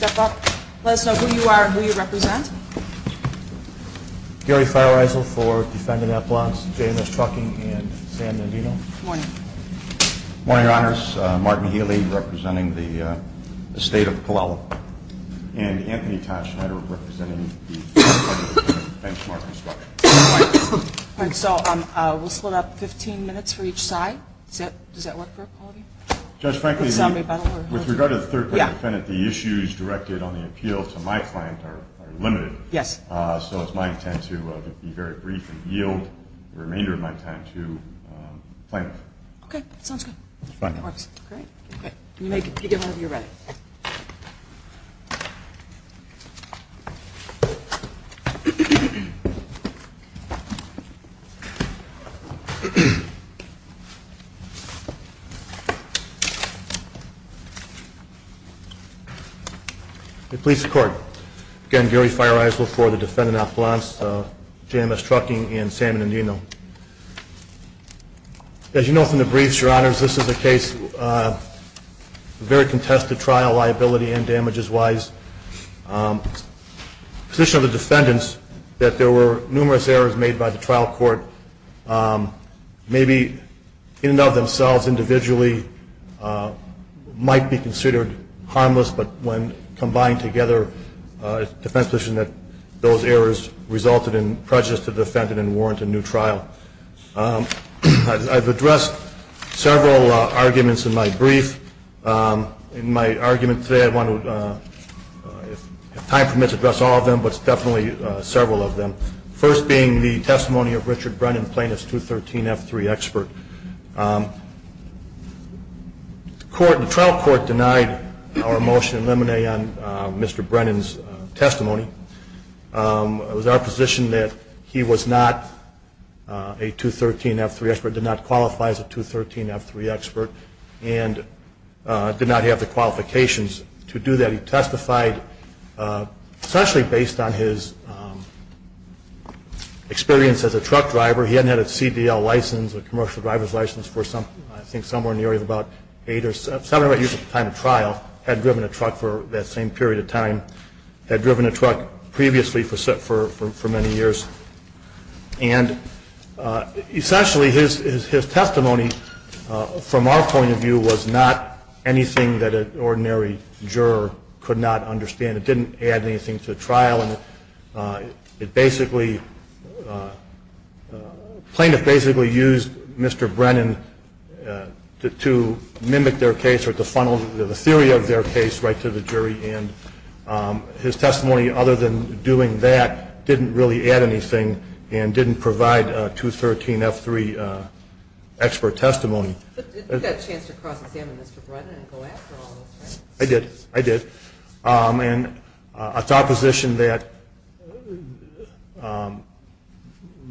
Let us know who you are and who you represent. Gary Feilreisel for Defendant Appellants JMS Trucking and Sam Navino. Good morning. Good morning, Your Honors. Martin Healy representing the State of Palo Alto. And Anthony Tashnider representing the Third Court Defendant of Benchmark Construction. All right, so we'll split up 15 minutes for each side. Does that work for all of you? Judge, frankly, with regard to the Third Court Defendant, the issues directed on the appeal to my client are limited. Yes. So it's my intent to be very brief and yield the remainder of my time to the plaintiff. Okay, sounds good. Fine. Great. You may begin whenever you're ready. The Police Court. Again, Gary Feilreisel for the Defendant Appellants JMS Trucking and Sam Navino. As you know from the briefs, Your Honors, this is a case of very contested trial liability and damages-wise. The position of the defendants that there were numerous errors made by the trial court, maybe in and of themselves, individually, might be considered harmless. But when combined together, it's the defense position that those errors resulted in prejudice to the defendant and warrant a new trial. I've addressed several arguments in my brief. In my argument today, I want to, if time permits, address all of them, but definitely several of them. The first being the testimony of Richard Brennan, plaintiff's 213F3 expert. The trial court denied our motion in limine on Mr. Brennan's testimony. It was our position that he was not a 213F3 expert, did not qualify as a 213F3 expert, and did not have the qualifications to do that. He testified, especially based on his experience as a truck driver. He hadn't had a CDL license, a commercial driver's license, for I think somewhere in the area of about eight or seven years of time at trial. Had driven a truck for that same period of time. Had driven a truck previously for many years. And essentially his testimony, from our point of view, was not anything that an ordinary juror could not understand. It didn't add anything to the trial. And it basically, plaintiff basically used Mr. Brennan to mimic their case or to funnel the theory of their case right to the jury. And his testimony, other than doing that, didn't really add anything and didn't provide a 213F3 expert testimony. But you got a chance to cross-examine Mr. Brennan and go after all of us, right? I did. I did. And it's our position that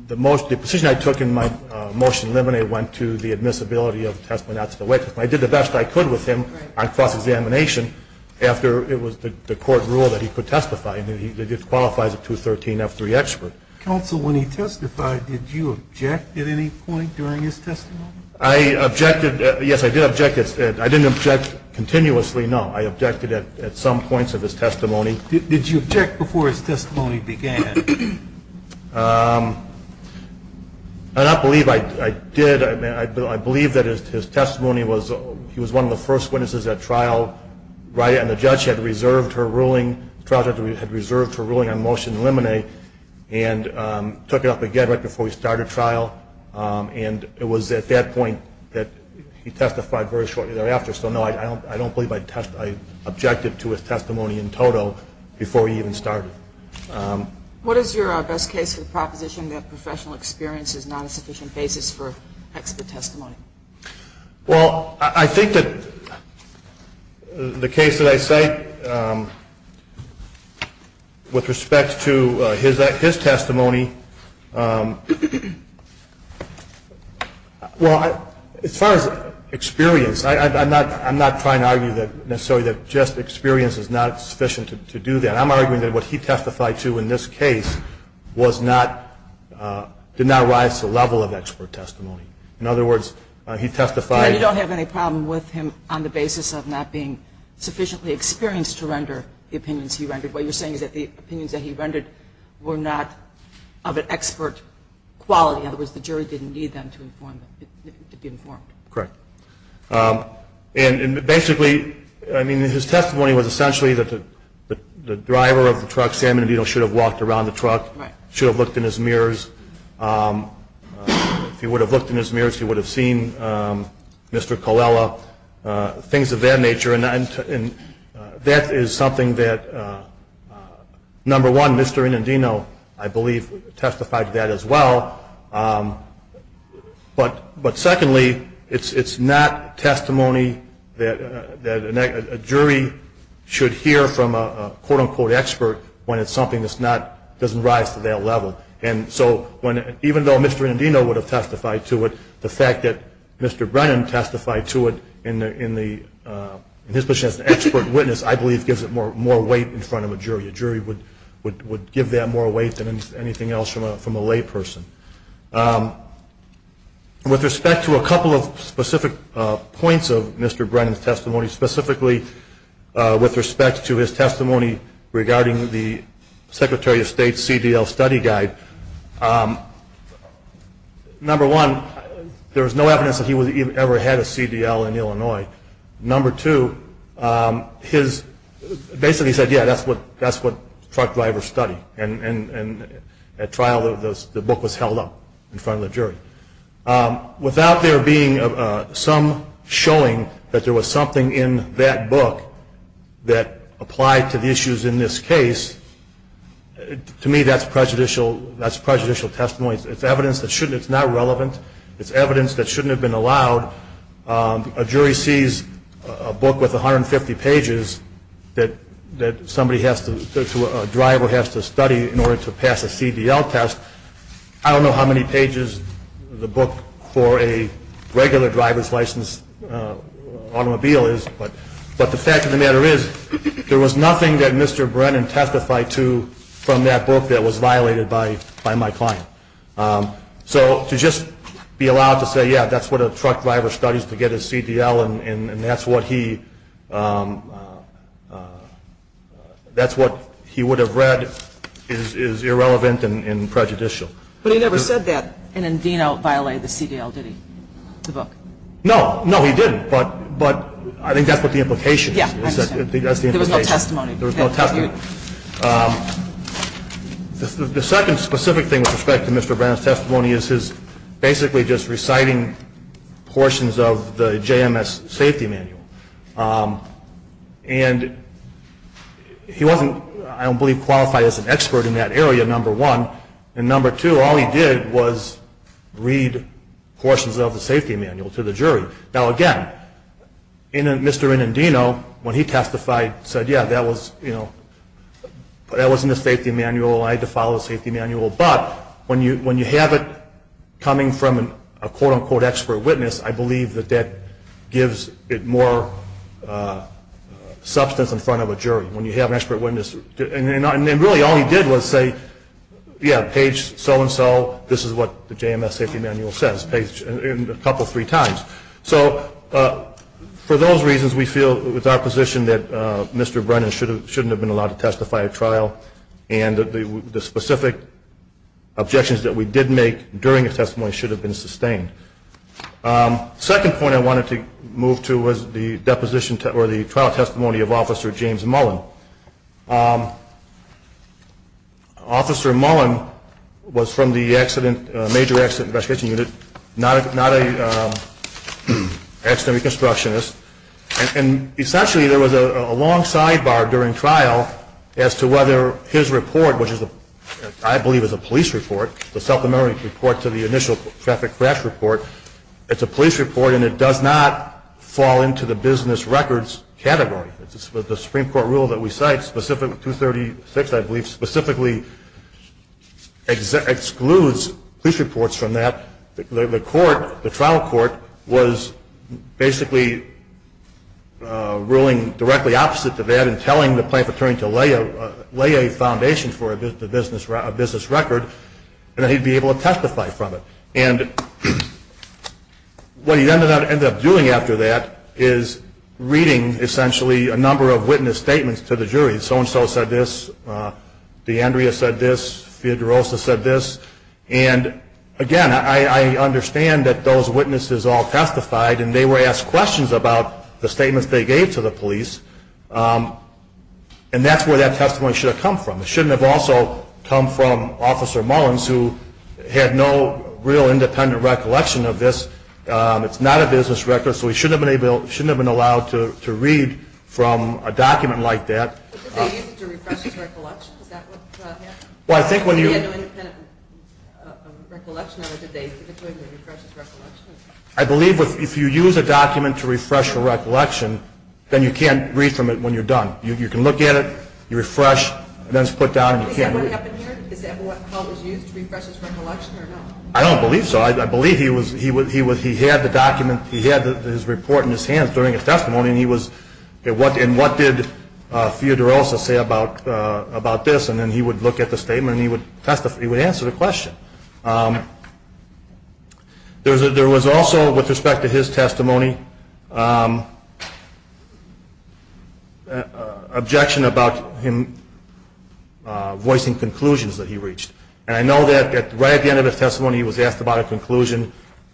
the position I took in my motion in limine went to the admissibility of the testimony not to the witness. I did the best I could with him on cross-examination after it was the court rule that he could testify. And it qualifies a 213F3 expert. Counsel, when he testified, did you object at any point during his testimony? I objected. Yes, I did object. I didn't object continuously. No, I objected at some points of his testimony. Did you object before his testimony began? I don't believe I did. I believe that his testimony was he was one of the first witnesses at trial, right, and the judge had reserved her ruling on motion limine and took it up again right before he started trial. And it was at that point that he testified very shortly thereafter. So, no, I don't believe I objected to his testimony in total before he even started. What is your best case for the proposition that professional experience is not a sufficient basis for expert testimony? Well, I think that the case that I cite with respect to his testimony, well, as far as experience, I'm not trying to argue necessarily that just experience is not sufficient to do that. I'm arguing that what he testified to in this case did not rise to the level of expert testimony. In other words, he testified. You don't have any problem with him on the basis of not being sufficiently experienced to render the opinions he rendered. What you're saying is that the opinions that he rendered were not of an expert quality. In other words, the jury didn't need them to be informed. Correct. And basically, I mean, his testimony was essentially that the driver of the truck, Sam Indendino, should have walked around the truck, should have looked in his mirrors. If he would have looked in his mirrors, he would have seen Mr. Colella, things of that nature. And that is something that, number one, Mr. Indendino, I believe, testified to that as well. But secondly, it's not testimony that a jury should hear from a quote-unquote expert when it's something that doesn't rise to that level. And so even though Mr. Indendino would have testified to it, the fact that Mr. Brennan testified to it in his position as an expert witness, I believe gives it more weight in front of a jury. A jury would give that more weight than anything else from a layperson. With respect to a couple of specific points of Mr. Brennan's testimony, specifically with respect to his testimony regarding the Secretary of State's CDL study guide, number one, there was no evidence that he ever had a CDL in Illinois. Number two, basically he said, yeah, that's what truck drivers study. And at trial, the book was held up in front of the jury. Without there being some showing that there was something in that book that applied to the issues in this case, to me that's prejudicial testimony. It's evidence that's not relevant. It's evidence that shouldn't have been allowed. A jury sees a book with 150 pages that a driver has to study in order to pass a CDL test. I don't know how many pages the book for a regular driver's license automobile is, but the fact of the matter is there was nothing that Mr. Brennan testified to from that book that was violated by my client. So to just be allowed to say, yeah, that's what a truck driver studies to get his CDL, and that's what he would have read is irrelevant and prejudicial. But he never said that an endino violated the CDL, did he, the book? No, no, he didn't. But I think that's what the implication is. Yeah, I understand. There was no testimony. There was no testimony. The second specific thing with respect to Mr. Brennan's testimony is his basically just reciting portions of the JMS safety manual. And he wasn't, I don't believe, qualified as an expert in that area, number one. And number two, all he did was read portions of the safety manual to the jury. Now, again, Mr. Endino, when he testified, said, yeah, that wasn't his safety manual. I had to follow the safety manual. But when you have it coming from a quote, unquote, expert witness, I believe that that gives it more substance in front of a jury. When you have an expert witness, and really all he did was say, yeah, page so-and-so, this is what the JMS safety manual says, a couple, three times. So for those reasons, we feel with our position that Mr. Brennan shouldn't have been allowed to testify at trial. And the specific objections that we did make during his testimony should have been sustained. Second point I wanted to move to was the deposition or the trial testimony of Officer James Mullen. Officer Mullen was from the Major Accident Investigation Unit, not an accident reconstructionist. And essentially, there was a long sidebar during trial as to whether his report, which I believe is a police report, the self-determinant report to the initial traffic crash report, it's a police report and it does not fall into the business records category. The Supreme Court rule that we cite, Specific 236, I believe, specifically excludes police reports from that. The court, the trial court, was basically ruling directly opposite to that and telling the plaintiff attorney to lay a foundation for a business record and that he'd be able to testify from it. And what he ended up doing after that is reading, essentially, a number of witness statements to the jury. So-and-so said this, D'Andrea said this, Fiodorosa said this. And, again, I understand that those witnesses all testified and they were asked questions about the statements they gave to the police. And that's where that testimony should have come from. It shouldn't have also come from Officer Mullins, who had no real independent recollection of this. It's not a business record, so he shouldn't have been allowed to read from a document like that. But did they use it to refresh his recollection? Is that what happened? Well, I think when you- He had no independent recollection of it. Did they use it to refresh his recollection? I believe if you use a document to refresh your recollection, then you can't read from it when you're done. You can look at it, you refresh, and then it's put down and you can't- Is that what happened here? Is that what was used to refresh his recollection or not? I don't believe so. I believe he had the document, he had his report in his hands during his testimony, and he was-and what did Fiodorosa say about this? And then he would look at the statement and he would answer the question. There was also, with respect to his testimony, objection about him voicing conclusions that he reached. And I know that right at the end of his testimony he was asked about a conclusion.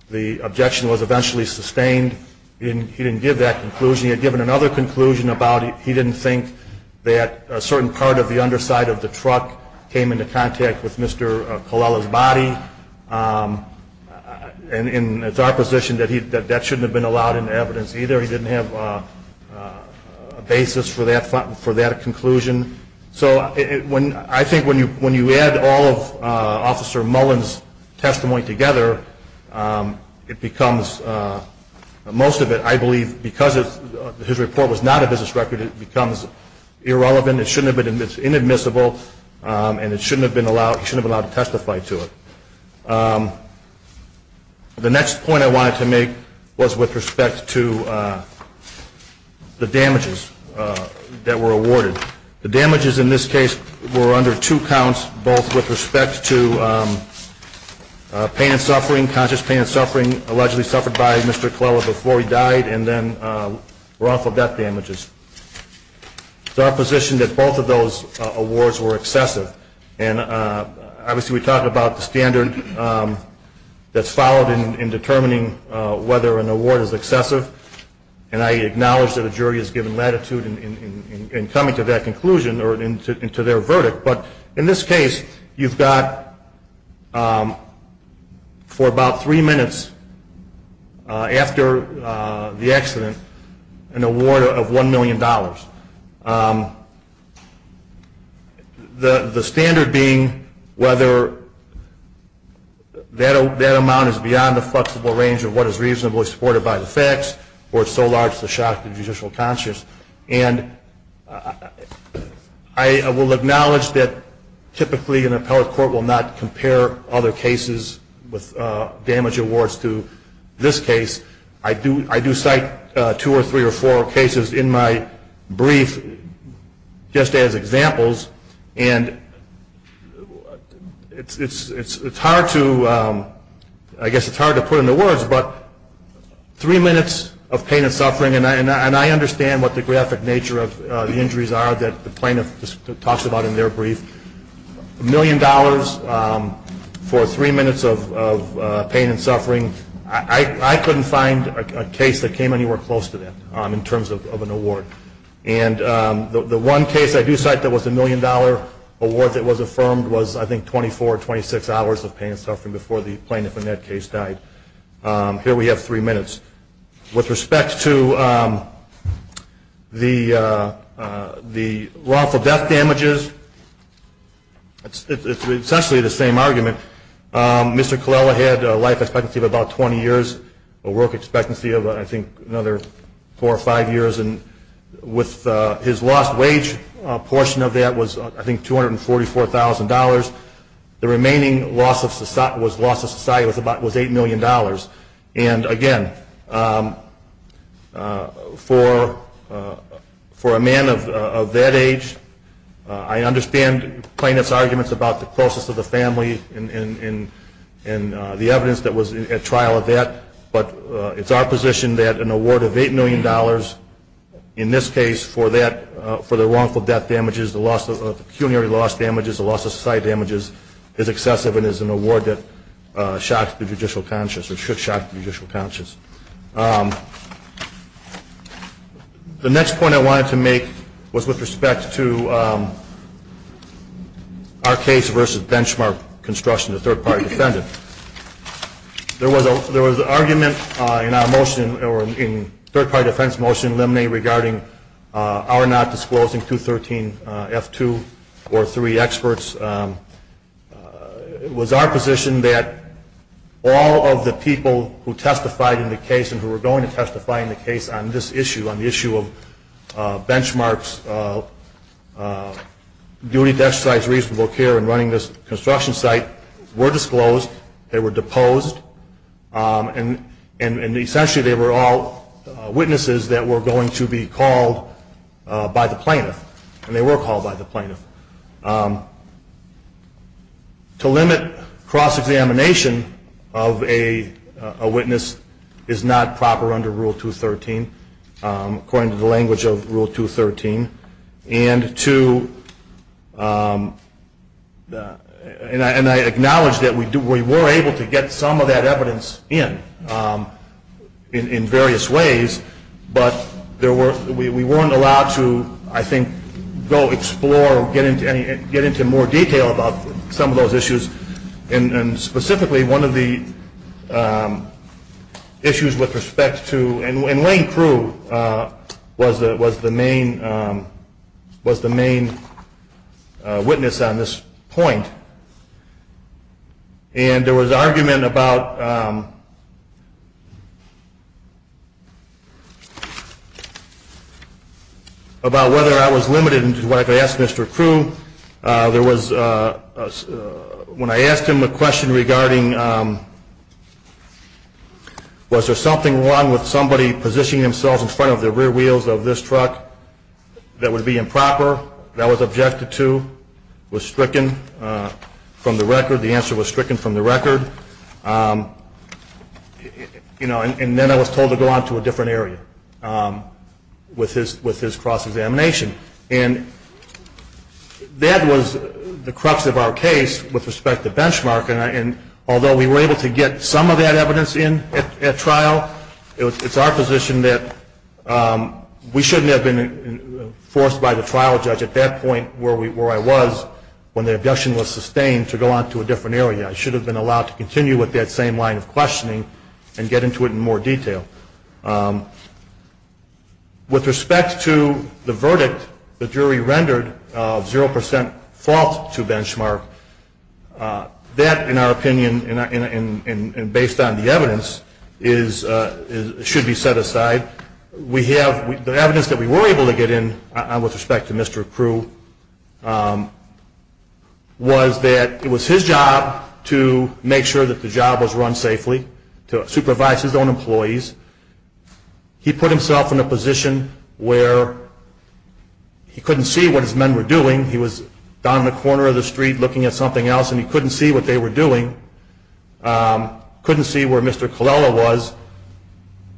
The objection was eventually sustained. He didn't give that conclusion. He had given another conclusion about he didn't think that a certain part of the underside of the truck came into contact with Mr. Colella's body. And it's our position that that shouldn't have been allowed into evidence either. He didn't have a basis for that conclusion. So I think when you add all of Officer Mullen's testimony together, it becomes-most of it, I believe, because his report was not a business record, it becomes irrelevant. It's inadmissible and he shouldn't have been allowed to testify to it. The next point I wanted to make was with respect to the damages that were awarded. The damages in this case were under two counts, both with respect to pain and suffering, conscious pain and suffering allegedly suffered by Mr. Colella before he died, and then wrongful death damages. It's our position that both of those awards were excessive. And obviously we talked about the standard that's followed in determining whether an award is excessive, and I acknowledge that a jury is given latitude in coming to that conclusion or to their verdict. But in this case, you've got, for about three minutes after the accident, an award of $1 million. The standard being whether that amount is beyond the flexible range of what is reasonably supported by the facts where it's so large it's a shock to the judicial conscience. And I will acknowledge that typically an appellate court will not compare other cases with damage awards to this case. I do cite two or three or four cases in my brief just as examples, and it's hard to-I guess it's hard to put into words, but three minutes of pain and suffering, and I understand what the graphic nature of the injuries are that the plaintiff talks about in their brief. A million dollars for three minutes of pain and suffering. I couldn't find a case that came anywhere close to that in terms of an award. And the one case I do cite that was a million-dollar award that was affirmed was, I think, 24 or 26 hours of pain and suffering before the plaintiff in that case died. Here we have three minutes. With respect to the lawful death damages, it's essentially the same argument. Mr. Colella had a life expectancy of about 20 years, a work expectancy of, I think, another four or five years, and with his lost wage portion of that was, I think, $244,000. The remaining loss of society was about $8 million. And, again, for a man of that age, I understand the plaintiff's arguments about the closest of the family and the evidence that was at trial of that. But it's our position that an award of $8 million, in this case, for the wrongful death damages, the pecuniary loss damages, the loss of society damages, is excessive and is an award that shocks the judicial conscience or should shock the judicial conscience. The next point I wanted to make was with respect to our case versus benchmark construction, the third-party defendant. There was an argument in our motion, or in third-party defense motion, Lemney, regarding our not disclosing 213F2 or 3 experts. It was our position that all of the people who testified in the case and who were going to testify in the case on this issue, on the issue of benchmarks, duty, death sites, reasonable care, and running this construction site were disclosed. They were deposed. And, essentially, they were all witnesses that were going to be called by the plaintiff. And they were called by the plaintiff. To limit cross-examination of a witness is not proper under Rule 213, according to the language of Rule 213. And I acknowledge that we were able to get some of that evidence in, in various ways, but we weren't allowed to, I think, go explore or get into more detail about some of those issues. And, specifically, one of the issues with respect to – and Wayne Crew was the main witness on this point. And there was argument about whether I was limited in what I asked Mr. Crew. There was – when I asked him a question regarding was there something wrong with somebody positioning themselves in front of the rear wheels of this truck that would be improper, that I was objected to, was stricken from the record, the answer was stricken from the record. And then I was told to go on to a different area with his cross-examination. And that was the crux of our case with respect to benchmark. And although we were able to get some of that evidence in at trial, it's our position that we shouldn't have been forced by the trial judge at that point where I was when the objection was sustained to go on to a different area. I should have been allowed to continue with that same line of questioning and get into it in more detail. With respect to the verdict the jury rendered of 0% fault to benchmark, that in our opinion and based on the evidence should be set aside. The evidence that we were able to get in with respect to Mr. Crew was that it was his job to make sure that the job was run safely, to supervise his own employees. He put himself in a position where he couldn't see what his men were doing. He was down in the corner of the street looking at something else and he couldn't see what they were doing. Couldn't see where Mr. Colella was,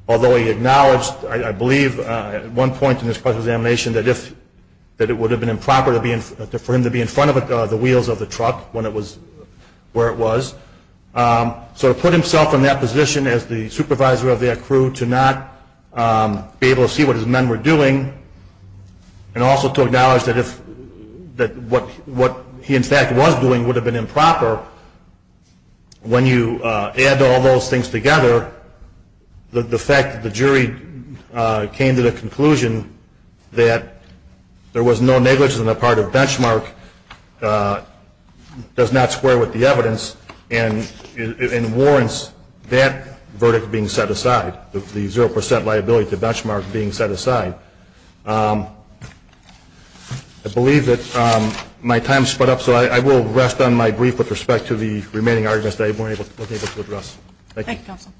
although he acknowledged, I believe, at one point in his cross-examination that it would have been improper for him to be in front of the wheels of the truck when it was where it was. So he put himself in that position as the supervisor of that crew to not be able to see what his men were doing and also to acknowledge that what he in fact was doing would have been improper. When you add all those things together, the fact that the jury came to the conclusion that there was no negligence on the part of benchmark does not square with the evidence and warrants that verdict being set aside, the 0% liability of the benchmark being set aside. I believe that my time has sped up, so I will rest on my brief with respect to the remaining arguments that I wasn't able to address. Thank you, Counsel.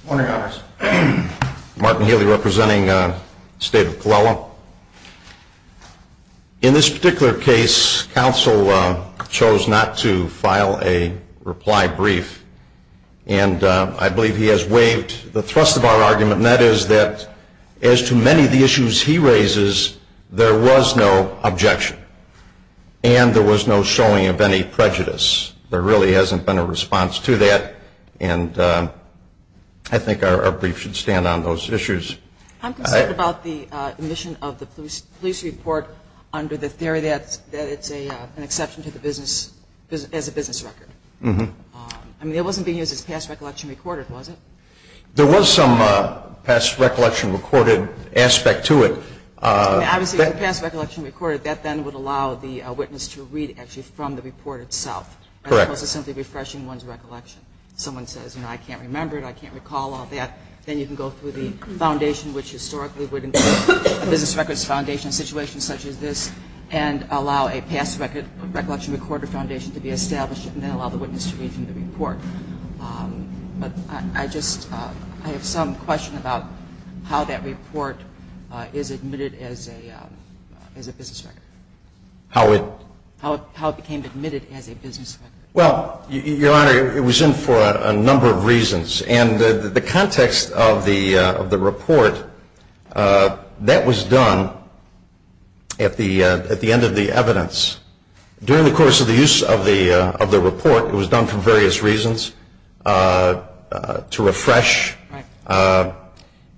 Good morning, Congress. Martin Healy representing the State of Colella. In this particular case, Counsel chose not to file a reply brief and I believe he has waived the thrust of our argument and that is that as to many of the issues he raises, there was no objection and there was no showing of any prejudice. There really hasn't been a response to that and I think our brief should stand on those issues. I'm concerned about the omission of the police report under the theory that it's an exception to the business record. It wasn't being used as past recollection recorded, was it? There was some past recollection recorded aspect to it. Obviously, the past recollection recorded, that then would allow the witness to read actually from the report itself. Correct. As opposed to simply refreshing one's recollection. Someone says, you know, I can't remember it, I can't recall all that, then you can go through the foundation which historically would include a business records foundation situation such as this and allow a past recollection recorded foundation to be established and then allow the witness to read from the report. But I just, I have some question about how that report is admitted as a business record. How it? How it became admitted as a business record. Well, Your Honor, it was in for a number of reasons and the context of the report, that was done at the end of the evidence. During the course of the use of the report, it was done for various reasons to refresh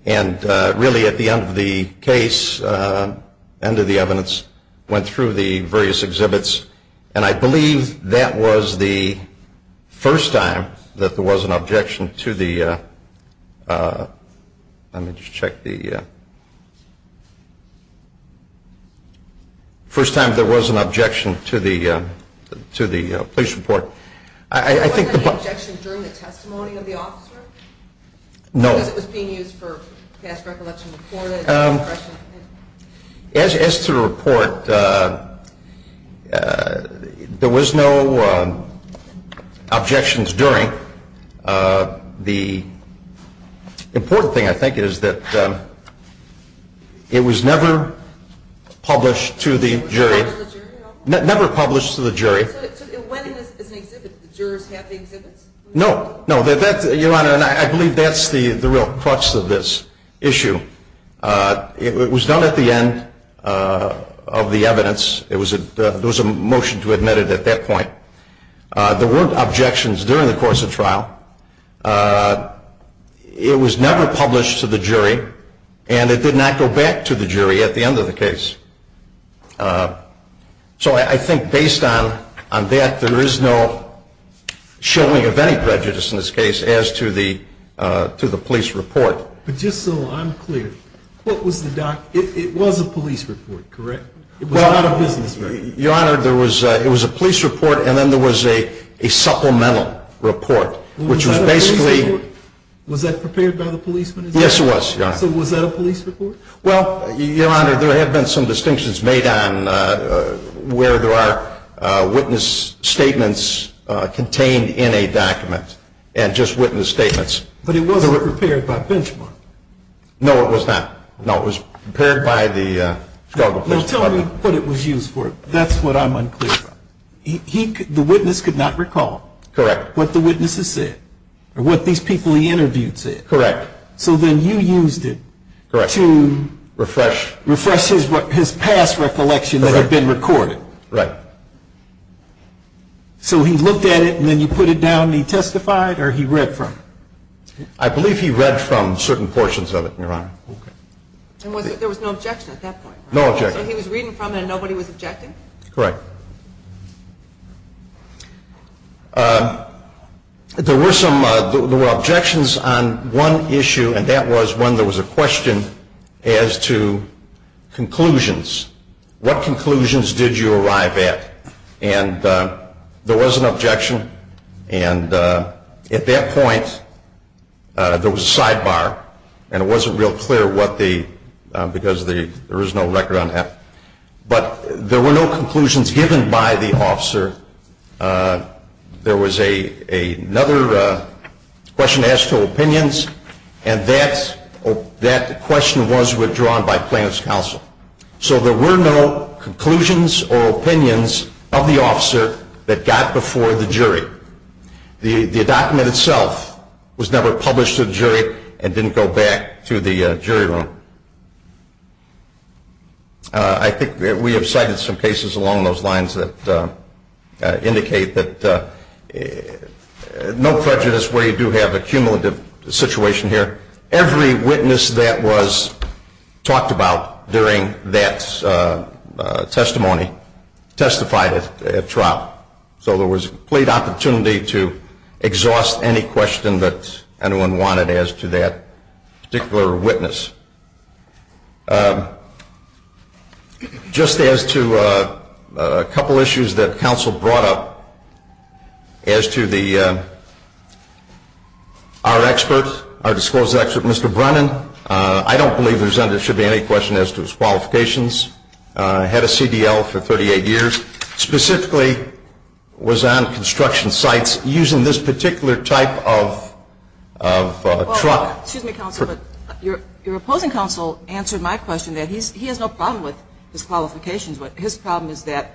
and really at the end of the case, end of the evidence, went through the various exhibits and I believe that was the first time that there was an objection to the, let me just check the, first time there was an objection to the police report. There wasn't any objection during the testimony of the officer? No. Because it was being used for past recollection reported? As to the report, there was no objections during. The important thing, I think, is that it was never published to the jury. Never published to the jury? Never published to the jury. So it went in as an exhibit? The jurors had the exhibits? No. No, Your Honor, I believe that's the real crux of this issue. It was done at the end of the evidence. There was a motion to admit it at that point. There weren't objections during the course of trial. It was never published to the jury and it did not go back to the jury at the end of the case. So I think based on that, there is no showing of any prejudice in this case as to the police report. But just so I'm clear, it was a police report, correct? It was not a business report? Your Honor, it was a police report and then there was a supplemental report, which was basically- Was that a police report? Was that prepared by the policeman as well? Yes, it was, Your Honor. So was that a police report? Well, Your Honor, there have been some distinctions made on where there are witness statements contained in a document and just witness statements. But it wasn't prepared by Benchmark? No, it was not. No, it was prepared by the Chicago Police Department. Well, tell me what it was used for. That's what I'm unclear about. The witness could not recall what the witnesses said or what these people he interviewed said. Correct. So then you used it to refresh his past recollection that had been recorded. Right. So he looked at it and then you put it down and he testified or he read from it? I believe he read from certain portions of it, Your Honor. There was no objection at that point? No objection. So he was reading from it and nobody was objecting? Correct. There were objections on one issue and that was when there was a question as to conclusions. What conclusions did you arrive at? And there was an objection and at that point there was a sidebar and it wasn't real clear because there was no record on it. But there were no conclusions given by the officer. There was another question as to opinions and that question was withdrawn by plaintiff's counsel. So there were no conclusions or opinions of the officer that got before the jury. The document itself was never published to the jury and didn't go back to the jury room. I think we have cited some cases along those lines that indicate that no prejudice where you do have a cumulative situation here. Every witness that was talked about during that testimony testified at trial. So there was a complete opportunity to exhaust any question that anyone wanted as to that particular witness. Just as to a couple of issues that counsel brought up as to our disclosed expert, Mr. Brennan, I don't believe there should be any question as to his qualifications. Had a CDL for 38 years. Specifically was on construction sites using this particular type of truck. Excuse me, counsel, but your opposing counsel answered my question that he has no problem with his qualifications. But his problem is that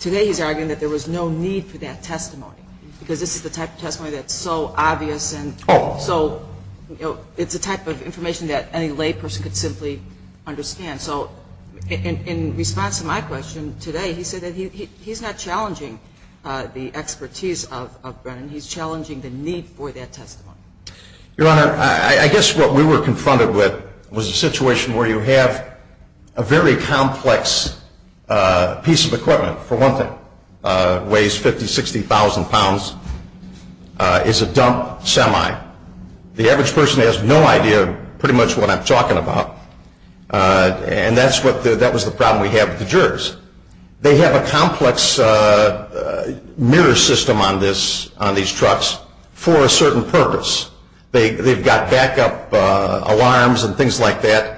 today he's arguing that there was no need for that testimony. Because this is the type of testimony that's so obvious and so it's a type of information that any lay person could simply understand. So in response to my question today, he said that he's not challenging the expertise of Brennan. He's challenging the need for that testimony. Your Honor, I guess what we were confronted with was a situation where you have a very complex piece of equipment, for one thing. It weighs 50,000, 60,000 pounds. It's a dump semi. The average person has no idea pretty much what I'm talking about. And that was the problem we had with the jurors. They have a complex mirror system on these trucks for a certain purpose. They've got backup alarms and things like that.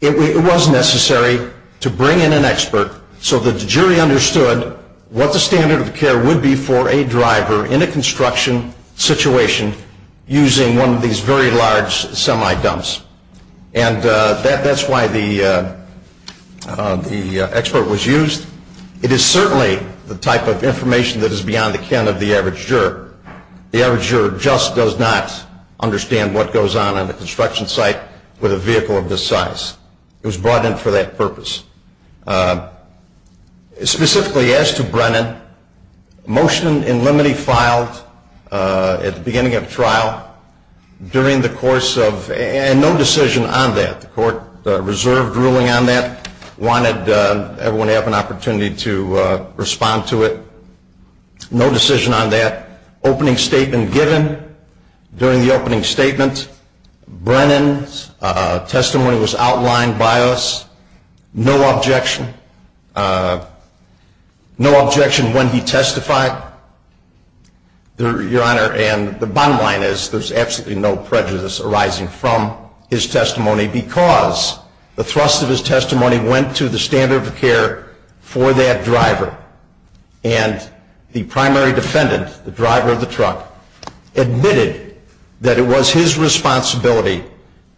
It was necessary to bring in an expert so that the jury understood what the standard of care would be for a driver in a construction situation using one of these very large semi dumps. And that's why the expert was used. It is certainly the type of information that is beyond the ken of the average juror. The average juror just does not understand what goes on in a construction site with a vehicle of this size. It was brought in for that purpose. Specifically, as to Brennan, motion in limine filed at the beginning of trial during the course of, and no decision on that. The court reserved ruling on that, wanted everyone to have an opportunity to respond to it. No decision on that. Opening statement given during the opening statement. Brennan's testimony was outlined by us. No objection. No objection when he testified, Your Honor. And the bottom line is there's absolutely no prejudice arising from his testimony because the thrust of his testimony went to the standard of care for that driver. And the primary defendant, the driver of the truck, admitted that it was his responsibility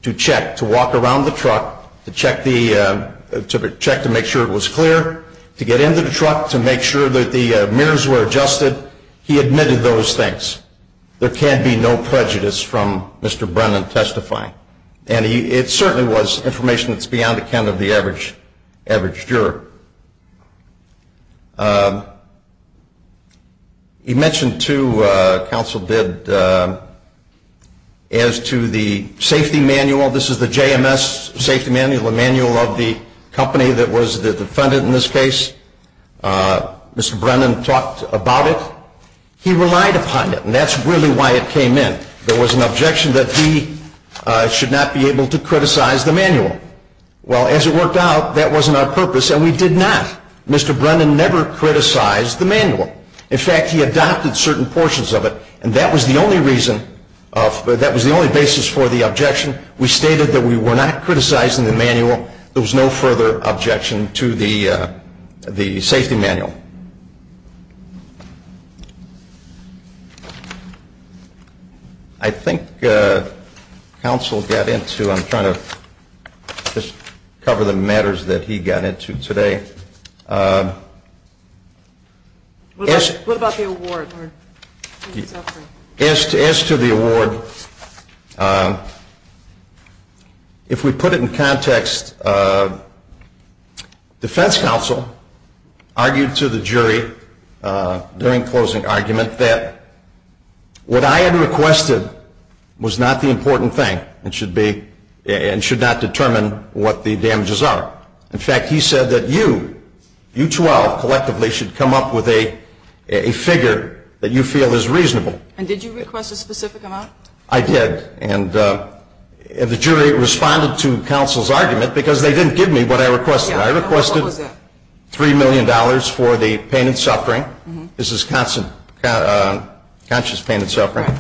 to check, to walk around the truck, to check to make sure it was clear, to get into the truck, to make sure that the mirrors were adjusted. He admitted those things. There can be no prejudice from Mr. Brennan testifying. And it certainly was information that's beyond the account of the average juror. He mentioned too, counsel did, as to the safety manual. This is the JMS safety manual, the manual of the company that was the defendant in this case. Mr. Brennan talked about it. He relied upon it, and that's really why it came in. There was an objection that he should not be able to criticize the manual. Well, as it worked out, that wasn't our purpose, and we did not. Mr. Brennan never criticized the manual. In fact, he adopted certain portions of it, and that was the only reason, that was the only basis for the objection. We stated that we were not criticizing the manual. There was no further objection to the safety manual. I think counsel got into, I'm trying to just cover the matters that he got into today. What about the award? As to the award, if we put it in context, defense counsel argued to the jury during closing argument, that what I had requested was not the important thing, and should not determine what the damages are. In fact, he said that you, you 12, collectively should come up with a figure that you feel is reasonable. And did you request a specific amount? I did, and the jury responded to counsel's argument, because they didn't give me what I requested. I requested $3 million for the pain and suffering. This is constant conscious pain and suffering.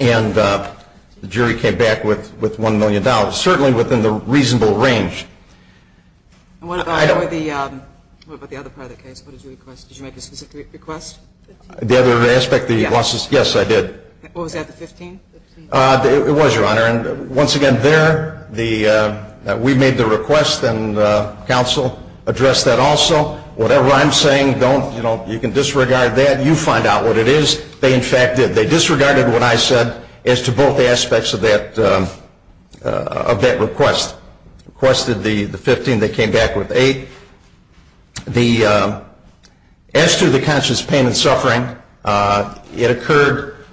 And the jury came back with $1 million, certainly within the reasonable range. And what about the other part of the case? What did you request? Did you make a specific request? The other aspect, the losses? Yes, I did. What was that, the 15? It was, Your Honor. And once again, there, we made the request, and counsel addressed that also. Whatever I'm saying, don't, you know, you can disregard that. You find out what it is. They, in fact, did. They disregarded what I said as to both aspects of that request. Requested the 15. They came back with 8. The, as to the conscious pain and suffering, it occurred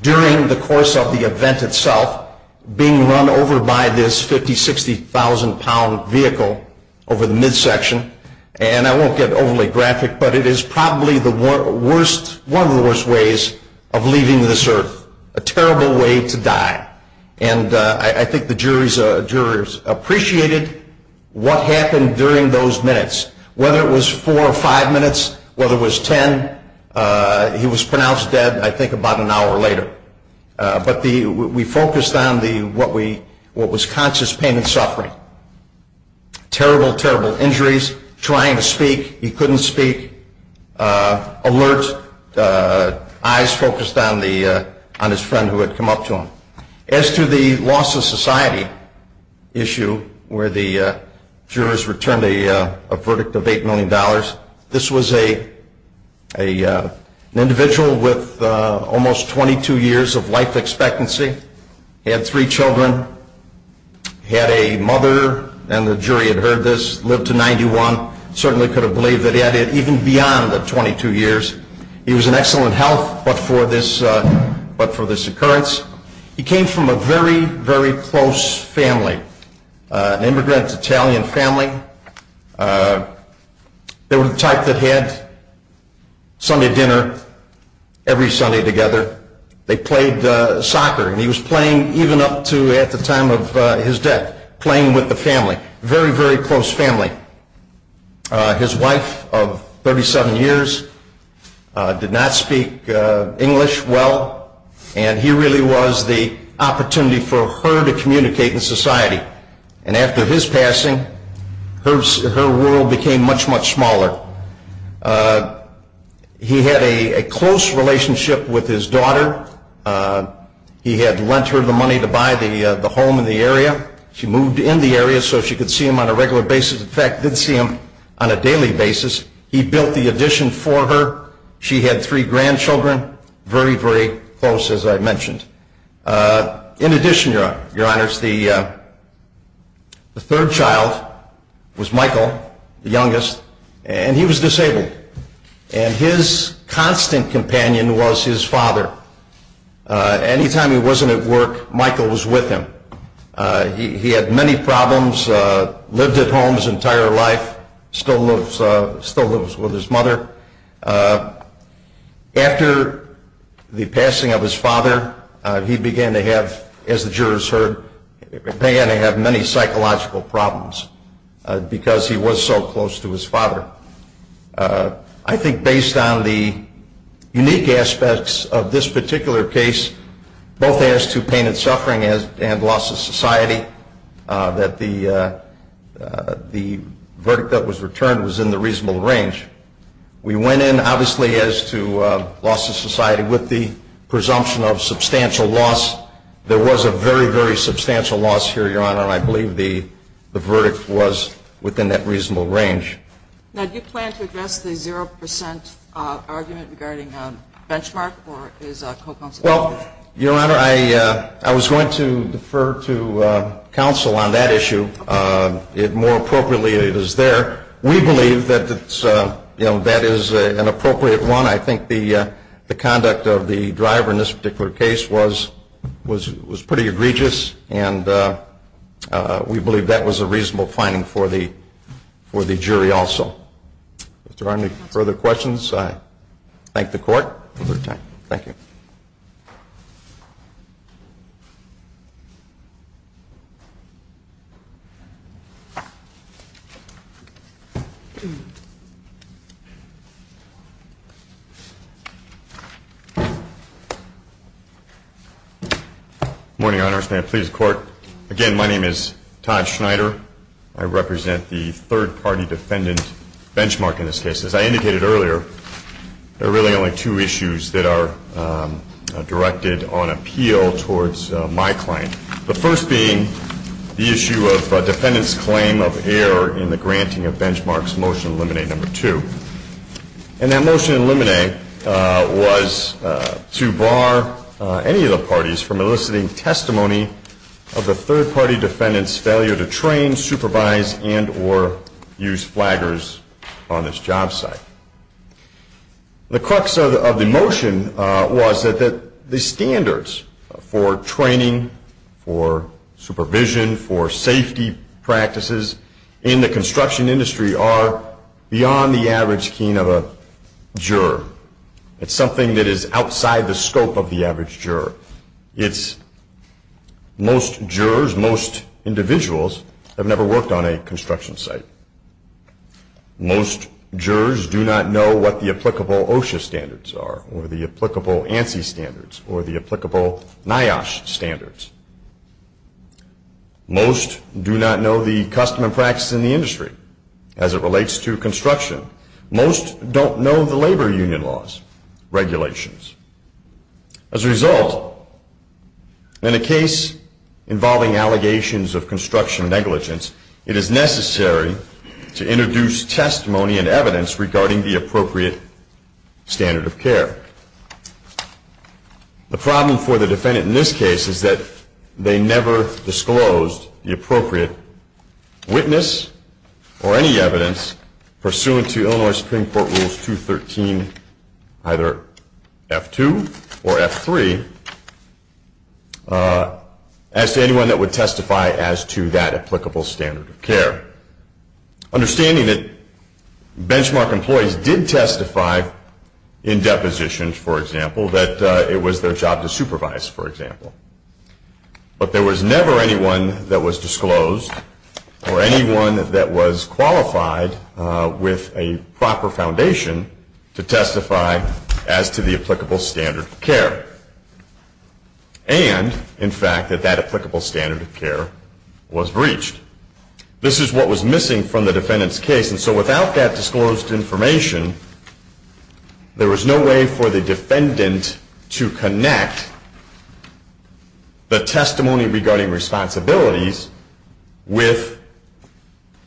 during the course of the event itself, being run over by this 50-, 60,000-pound vehicle over the midsection. And I won't get overly graphic, but it is probably the worst, one of the worst ways of leaving this earth. A terrible way to die. And I think the jurors appreciated what happened during those minutes. Whether it was four or five minutes, whether it was ten, he was pronounced dead, I think, about an hour later. But we focused on what was conscious pain and suffering. Terrible, terrible injuries. Trying to speak. He couldn't speak. Alert. Eyes focused on his friend who had come up to him. As to the loss of society issue where the jurors returned a verdict of $8 million, this was an individual with almost 22 years of life expectancy. He had three children. Had a mother, and the jury had heard this, lived to 91. Certainly could have believed that he had it even beyond the 22 years. He was in excellent health but for this occurrence. He came from a very, very close family. An immigrant Italian family. They were the type that had Sunday dinner every Sunday together. They played soccer, and he was playing even up to at the time of his death, playing with the family. Very, very close family. His wife of 37 years did not speak English well, and he really was the opportunity for her to communicate in society. And after his passing, her world became much, much smaller. He had a close relationship with his daughter. He had lent her the money to buy the home in the area. She moved in the area so she could see him on a regular basis. In fact, did see him on a daily basis. He built the addition for her. She had three grandchildren. Very, very close, as I mentioned. In addition, Your Honors, the third child was Michael, the youngest, and he was disabled. And his constant companion was his father. Anytime he wasn't at work, Michael was with him. He had many problems, lived at home his entire life, still lives with his mother. After the passing of his father, he began to have, as the jurors heard, began to have many psychological problems because he was so close to his father. I think based on the unique aspects of this particular case, both as to pain and suffering and loss of society, that the verdict that was returned was in the reasonable range. We went in, obviously, as to loss of society with the presumption of substantial loss. There was a very, very substantial loss here, Your Honor, and I believe the verdict was within that reasonable range. Now, do you plan to address the 0% argument regarding a benchmark or is a co-counsel? Well, Your Honor, I was going to defer to counsel on that issue. More appropriately, it is there. We believe that that is an appropriate one. I think the conduct of the driver in this particular case was pretty egregious, and we believe that was a reasonable finding for the jury also. If there are any further questions, I thank the Court for their time. Thank you. Good morning, Your Honor. May I please the Court? Again, my name is Todd Schneider. I represent the third-party defendant benchmark in this case. As I indicated earlier, there are really only two issues that are directed on appeal towards my client, the first being the issue of a defendant's claim of error in the granting of benefits. And that motion in limine was to bar any of the parties from eliciting testimony of the third-party defendant's failure to train, supervise, and or use flaggers on this job site. The crux of the motion was that the standards for training, for supervision, for safety practices in the construction industry are beyond the average keen of a juror. It's something that is outside the scope of the average juror. Most jurors, most individuals have never worked on a construction site. Most jurors do not know what the applicable OSHA standards are or the applicable ANSI standards or the applicable NIOSH standards. Most do not know the custom and practice in the industry as it relates to construction. Most don't know the labor union laws, regulations. As a result, in a case involving allegations of construction negligence, it is necessary to introduce testimony and evidence regarding the appropriate standard of care. The problem for the defendant in this case is that they never disclosed the appropriate witness or any evidence pursuant to Illinois Supreme Court Rules 213, either F2 or F3, as to anyone that would testify as to that applicable standard of care. Understanding that benchmark employees did testify in depositions, for example, that it was their job to supervise, for example. But there was never anyone that was disclosed or anyone that was qualified with a proper foundation to testify as to the applicable standard of care. And, in fact, that that applicable standard of care was breached. This is what was missing from the defendant's case. And so without that disclosed information, there was no way for the defendant to connect the testimony regarding responsibilities with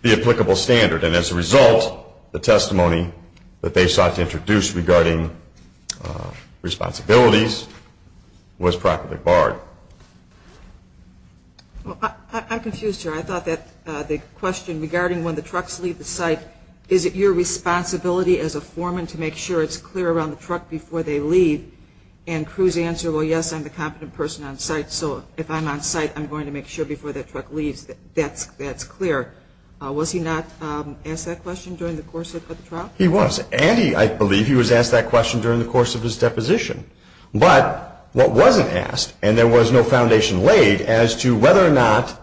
the applicable standard. And as a result, the testimony that they sought to introduce regarding responsibilities was practically barred. I'm confused here. I thought that the question regarding when the trucks leave the site, is it your responsibility as a foreman to make sure it's clear around the truck before they leave? And Cruz answered, well, yes, I'm the competent person on site, so if I'm on site, I'm going to make sure before that truck leaves that that's clear. Was he not asked that question during the course of the trial? He was. And I believe he was asked that question during the course of his deposition. But what wasn't asked, and there was no foundation laid as to whether or not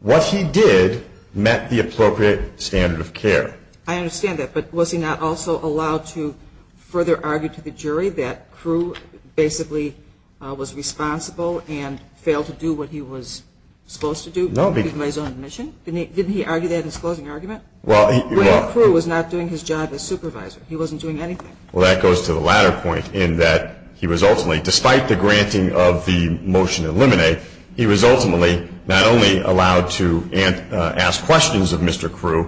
what he did met the appropriate standard of care. I understand that. But was he not also allowed to further argue to the jury that Cruz basically was responsible and failed to do what he was supposed to do? No. Didn't he argue that in his closing argument? Well, he was not doing his job as supervisor. He wasn't doing anything. Well, that goes to the latter point in that he was ultimately, despite the granting of the motion to eliminate, he was ultimately not only allowed to ask questions of Mr. Cruz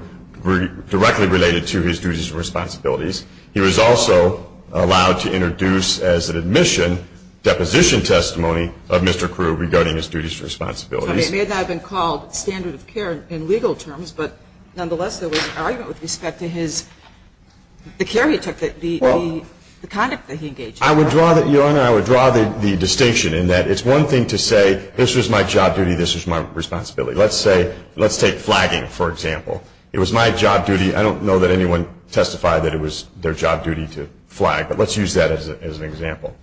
directly related to his duties and responsibilities, he was also allowed to introduce as an admission deposition testimony of Mr. Cruz regarding his duties and responsibilities. It may not have been called standard of care in legal terms, but nonetheless there was an argument with respect to the care he took, the conduct that he engaged in. I would draw the distinction in that it's one thing to say this was my job duty, this was my responsibility. Let's take flagging, for example. It was my job duty. I don't know that anyone testified that it was their job duty to flag, but let's use that as an example.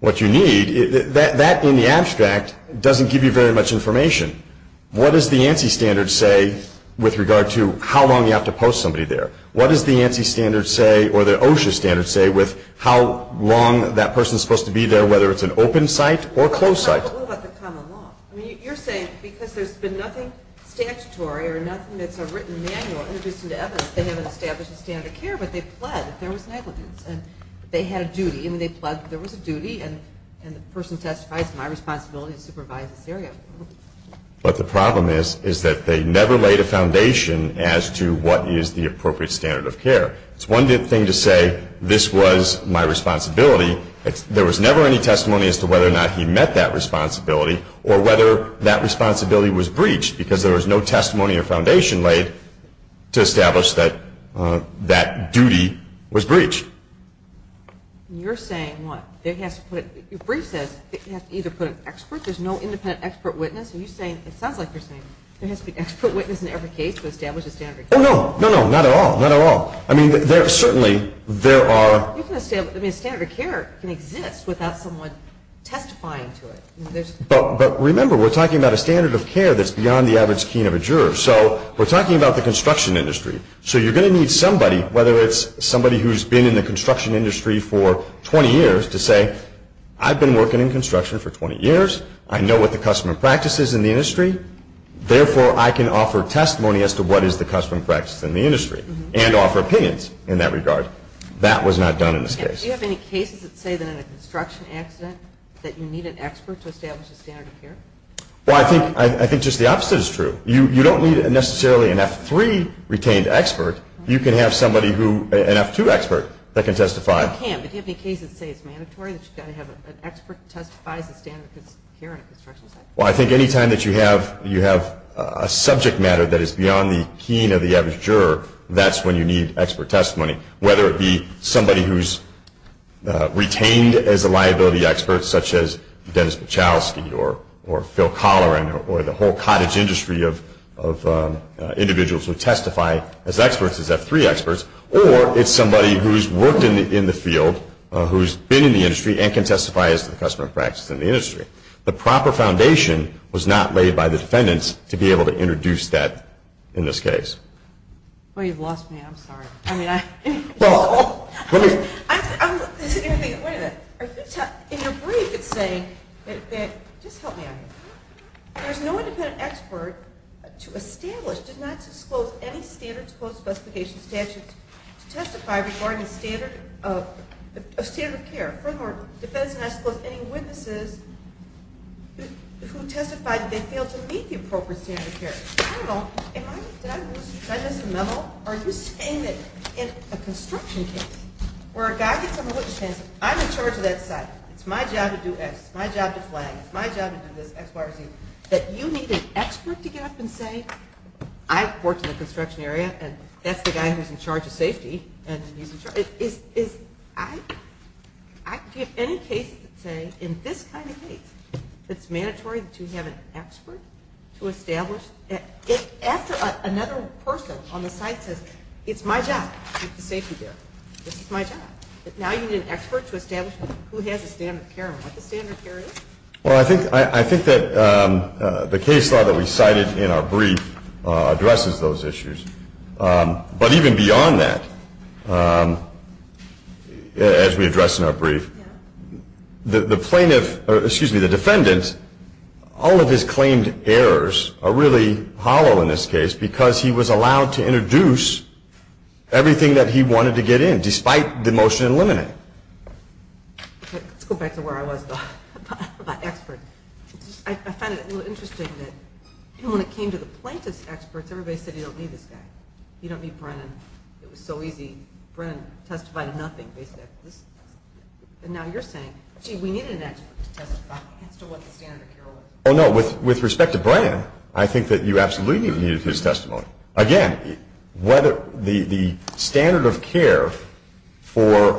What you need, that in the abstract doesn't give you very much information. What does the ANSI standard say with regard to how long you have to post somebody there? What does the ANSI standard say or the OSHA standard say with how long that person is supposed to be there, whether it's an open site or a closed site? What about the common law? You're saying because there's been nothing statutory or nothing that's a written manual introduced into evidence, they haven't established a standard of care, but they pled that there was negligence and they had a duty and they pled that there was a duty and the person testifies it's my responsibility to supervise this area. But the problem is that they never laid a foundation as to what is the appropriate standard of care. It's one thing to say this was my responsibility. There was never any testimony as to whether or not he met that responsibility or whether that responsibility was breached because there was no testimony or foundation laid to establish that that duty was breached. You're saying what? Your brief says you have to either put an expert, there's no independent expert witness. It sounds like you're saying there has to be an expert witness in every case to establish a standard of care. Oh, no, no, no, not at all, not at all. I mean, certainly there are... I mean, a standard of care can exist without someone testifying to it. But remember, we're talking about a standard of care that's beyond the average keen of a juror. So we're talking about the construction industry. So you're going to need somebody, whether it's somebody who's been in the construction industry for 20 years, to say I've been working in construction for 20 years, I know what the custom and practice is in the industry, therefore I can offer testimony as to what is the custom and practice in the industry and offer opinions in that regard. That was not done in this case. Do you have any cases that say that in a construction accident that you need an expert to establish a standard of care? Well, I think just the opposite is true. You don't need necessarily an F-3 retained expert. You can have somebody who, an F-2 expert, that can testify. You can, but do you have any cases that say it's mandatory that you've got to have an expert testify as a standard of care in a construction accident? Well, I think any time that you have a subject matter that is beyond the keen of the average juror, that's when you need expert testimony, whether it be somebody who's retained as a liability expert, such as Dennis Buchalski or Phil Colloran or the whole cottage industry of individuals who testify as experts, as F-3 experts, or it's somebody who's worked in the field, who's been in the industry, and can testify as to the custom and practice in the industry. The proper foundation was not laid by the defendants to be able to introduce that in this case. Well, you've lost me. I'm sorry. I mean, I... Well, let me... I'm... Wait a minute. Are you... In your brief, it's saying that... Just help me out here. There's no independent expert to establish, did not disclose, any standards, codes, specifications, statutes, to testify regarding a standard of care. Furthermore, defendants did not disclose any witnesses who testified that they failed to meet the appropriate standard of care. I don't know. Am I... Did I lose you? Did I lose the memo? Are you saying that in a construction case where a guy gets on the witness stand and says, I'm in charge of that site. It's my job to do X. It's my job to flag. It's my job to do this X, Y, or Z, that you need an expert to get up and say, I've worked in the construction area, and that's the guy who's in charge of safety, and he's in charge... Is... I... Do you have any cases that say, in this kind of case, it's mandatory to have an expert to establish... After another person on the site says, it's my job to keep the safety there. This is my job. But now you need an expert to establish who has a standard of care and what the standard of care is? Well, I think that the case law that we cited in our brief addresses those issues. The plaintiff... Excuse me, the defendant, all of his claimed errors are really hollow in this case because he was allowed to introduce everything that he wanted to get in, despite the motion in limine. Let's go back to where I was about experts. I find it a little interesting that when it came to the plaintiff's experts, everybody said, you don't need this guy. You don't need Brennan. It was so easy. Brennan testified to nothing, basically. And now you're saying, gee, we need an expert to testify as to what the standard of care was. Oh, no. With respect to Brennan, I think that you absolutely needed his testimony. Again, whether the standard of care for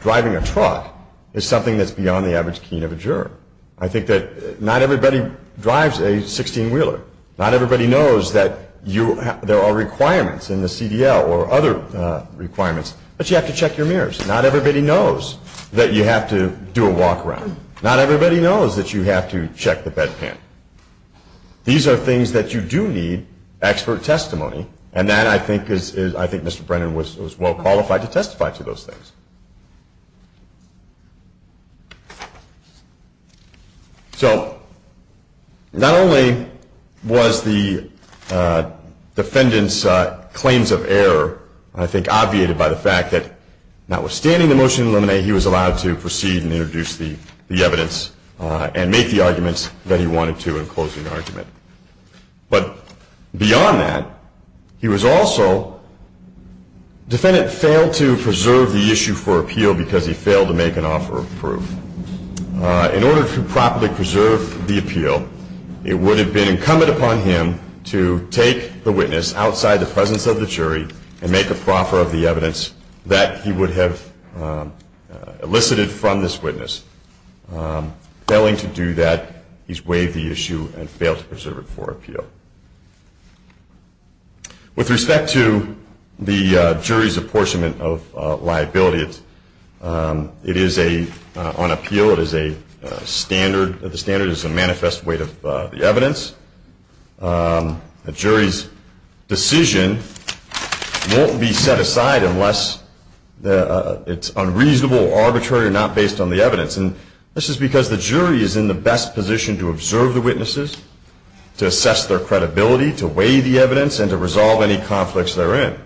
driving a truck is something that's beyond the average keen of a juror. I think that not everybody drives a 16-wheeler. Not everybody knows that there are requirements in the CDL or other requirements, but you have to check your mirrors. Not everybody knows that you have to do a walk-around. Not everybody knows that you have to check the bedpan. These are things that you do need expert testimony, and I think Mr. Brennan was well qualified to testify to those things. So not only was the defendant's claims of error, I think, obviated by the fact that notwithstanding the motion to eliminate, he was allowed to proceed and introduce the evidence and make the arguments that he wanted to in closing the argument. But beyond that, he was also, the defendant failed to preserve the issue for appeal because he failed to make an offer of proof. In order to properly preserve the appeal, it would have been incumbent upon him to take the witness outside the presence of the jury and make a proffer of the evidence that he would have elicited from this witness. Failing to do that, he's waived the issue and failed to preserve it for appeal. With respect to the jury's apportionment of liability, it is a, on appeal, it is a standard, the standard is a manifest weight of the evidence. The jury's decision won't be set aside unless it's unreasonable, arbitrary, or not based on the evidence. And this is because the jury is in the best position to observe the witnesses, to assess their credibility, to weigh the evidence, and to resolve any conflicts therein.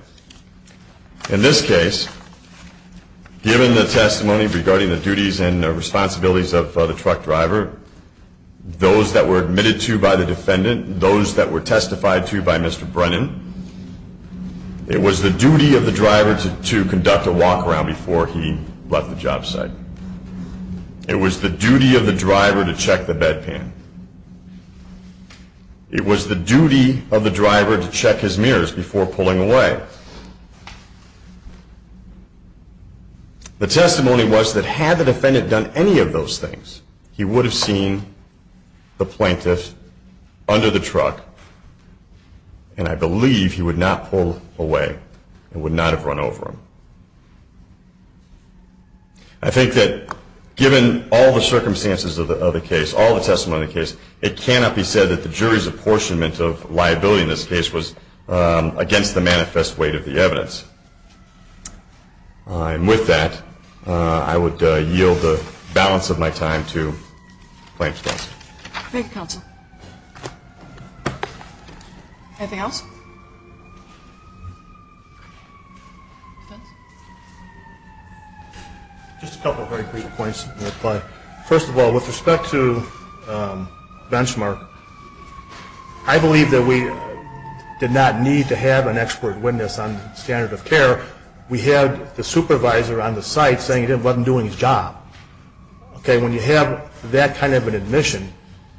In this case, given the testimony regarding the duties and responsibilities of the truck driver, those that were admitted to by the defendant, those that were testified to by Mr. Brennan, it was the duty of the driver to conduct a walk-around before he left the job site. It was the duty of the driver to check the bedpan. It was the duty of the driver to check his mirrors before pulling away. The testimony was that had the defendant done any of those things, he would have seen the plaintiff under the truck, and I believe he would not pull away and would not have run over him. I think that given all the circumstances of the case, all the testimony of the case, it cannot be said that the jury's apportionment of liability in this case was against the manifest weight of the evidence. And with that, I would yield the balance of my time to Plaintiff's Counsel. Thank you, Counsel. Anything else? Just a couple of very brief points in reply. First of all, with respect to Benchmark, I believe that we did not need to have an expert witness on the standard of care. We had the supervisor on the site saying he wasn't doing his job. When you have that kind of an admission,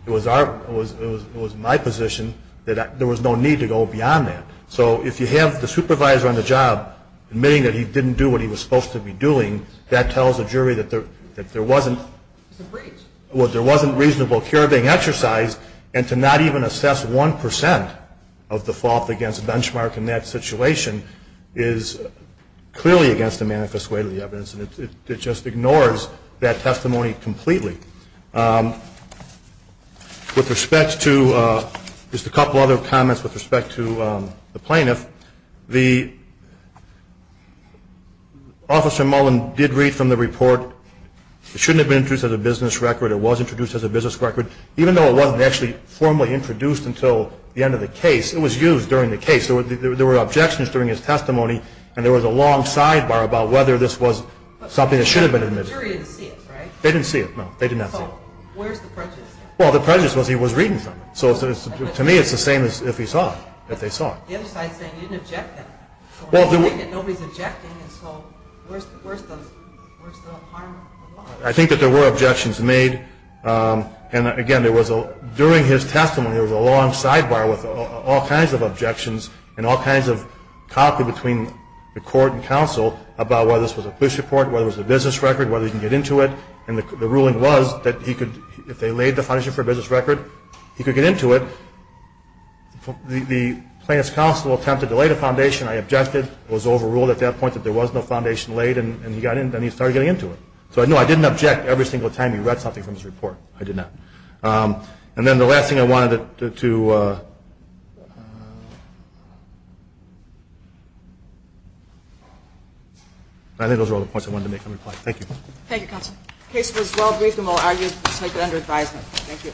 it was my position that there was no need to go beyond that. So if you have the supervisor on the job admitting that he didn't do what he was supposed to be doing, that tells the jury that there wasn't reasonable care being exercised, and to not even assess 1% of the fault against Benchmark in that situation is clearly against the manifest weight of the evidence, and it just ignores that testimony completely. Just a couple other comments with respect to the plaintiff. Officer Mullen did read from the report, it shouldn't have been introduced as a business record, it was introduced as a business record, even though it wasn't actually formally introduced until the end of the case, it was used during the case. There were objections during his testimony, and there was a long sidebar about whether this was something that should have been admitted. But the jury didn't see it, right? They didn't see it, no, they did not see it. So where's the prejudice? Well, the prejudice was he was reading from it. So to me it's the same as if he saw it, if they saw it. The other side is saying you didn't object to that. Nobody's objecting, so where's the harm involved? I think that there were objections made, and again, during his testimony there was a long sidebar with all kinds of objections and all kinds of copy between the court and counsel about whether this was a police report, whether it was a business record, whether he could get into it, and the ruling was that if they laid the foundation for a business record, he could get into it. The plaintiff's counsel attempted to lay the foundation, I objected, it was overruled at that point that there was no foundation laid, and then he started getting into it. So no, I didn't object every single time he read something from his report. I did not. And then the last thing I wanted to... I think those are all the points I wanted to make in reply. Thank you. Thank you, counsel. The case was well-briefed and well-argued, so I'll take it under advisement. Thank you.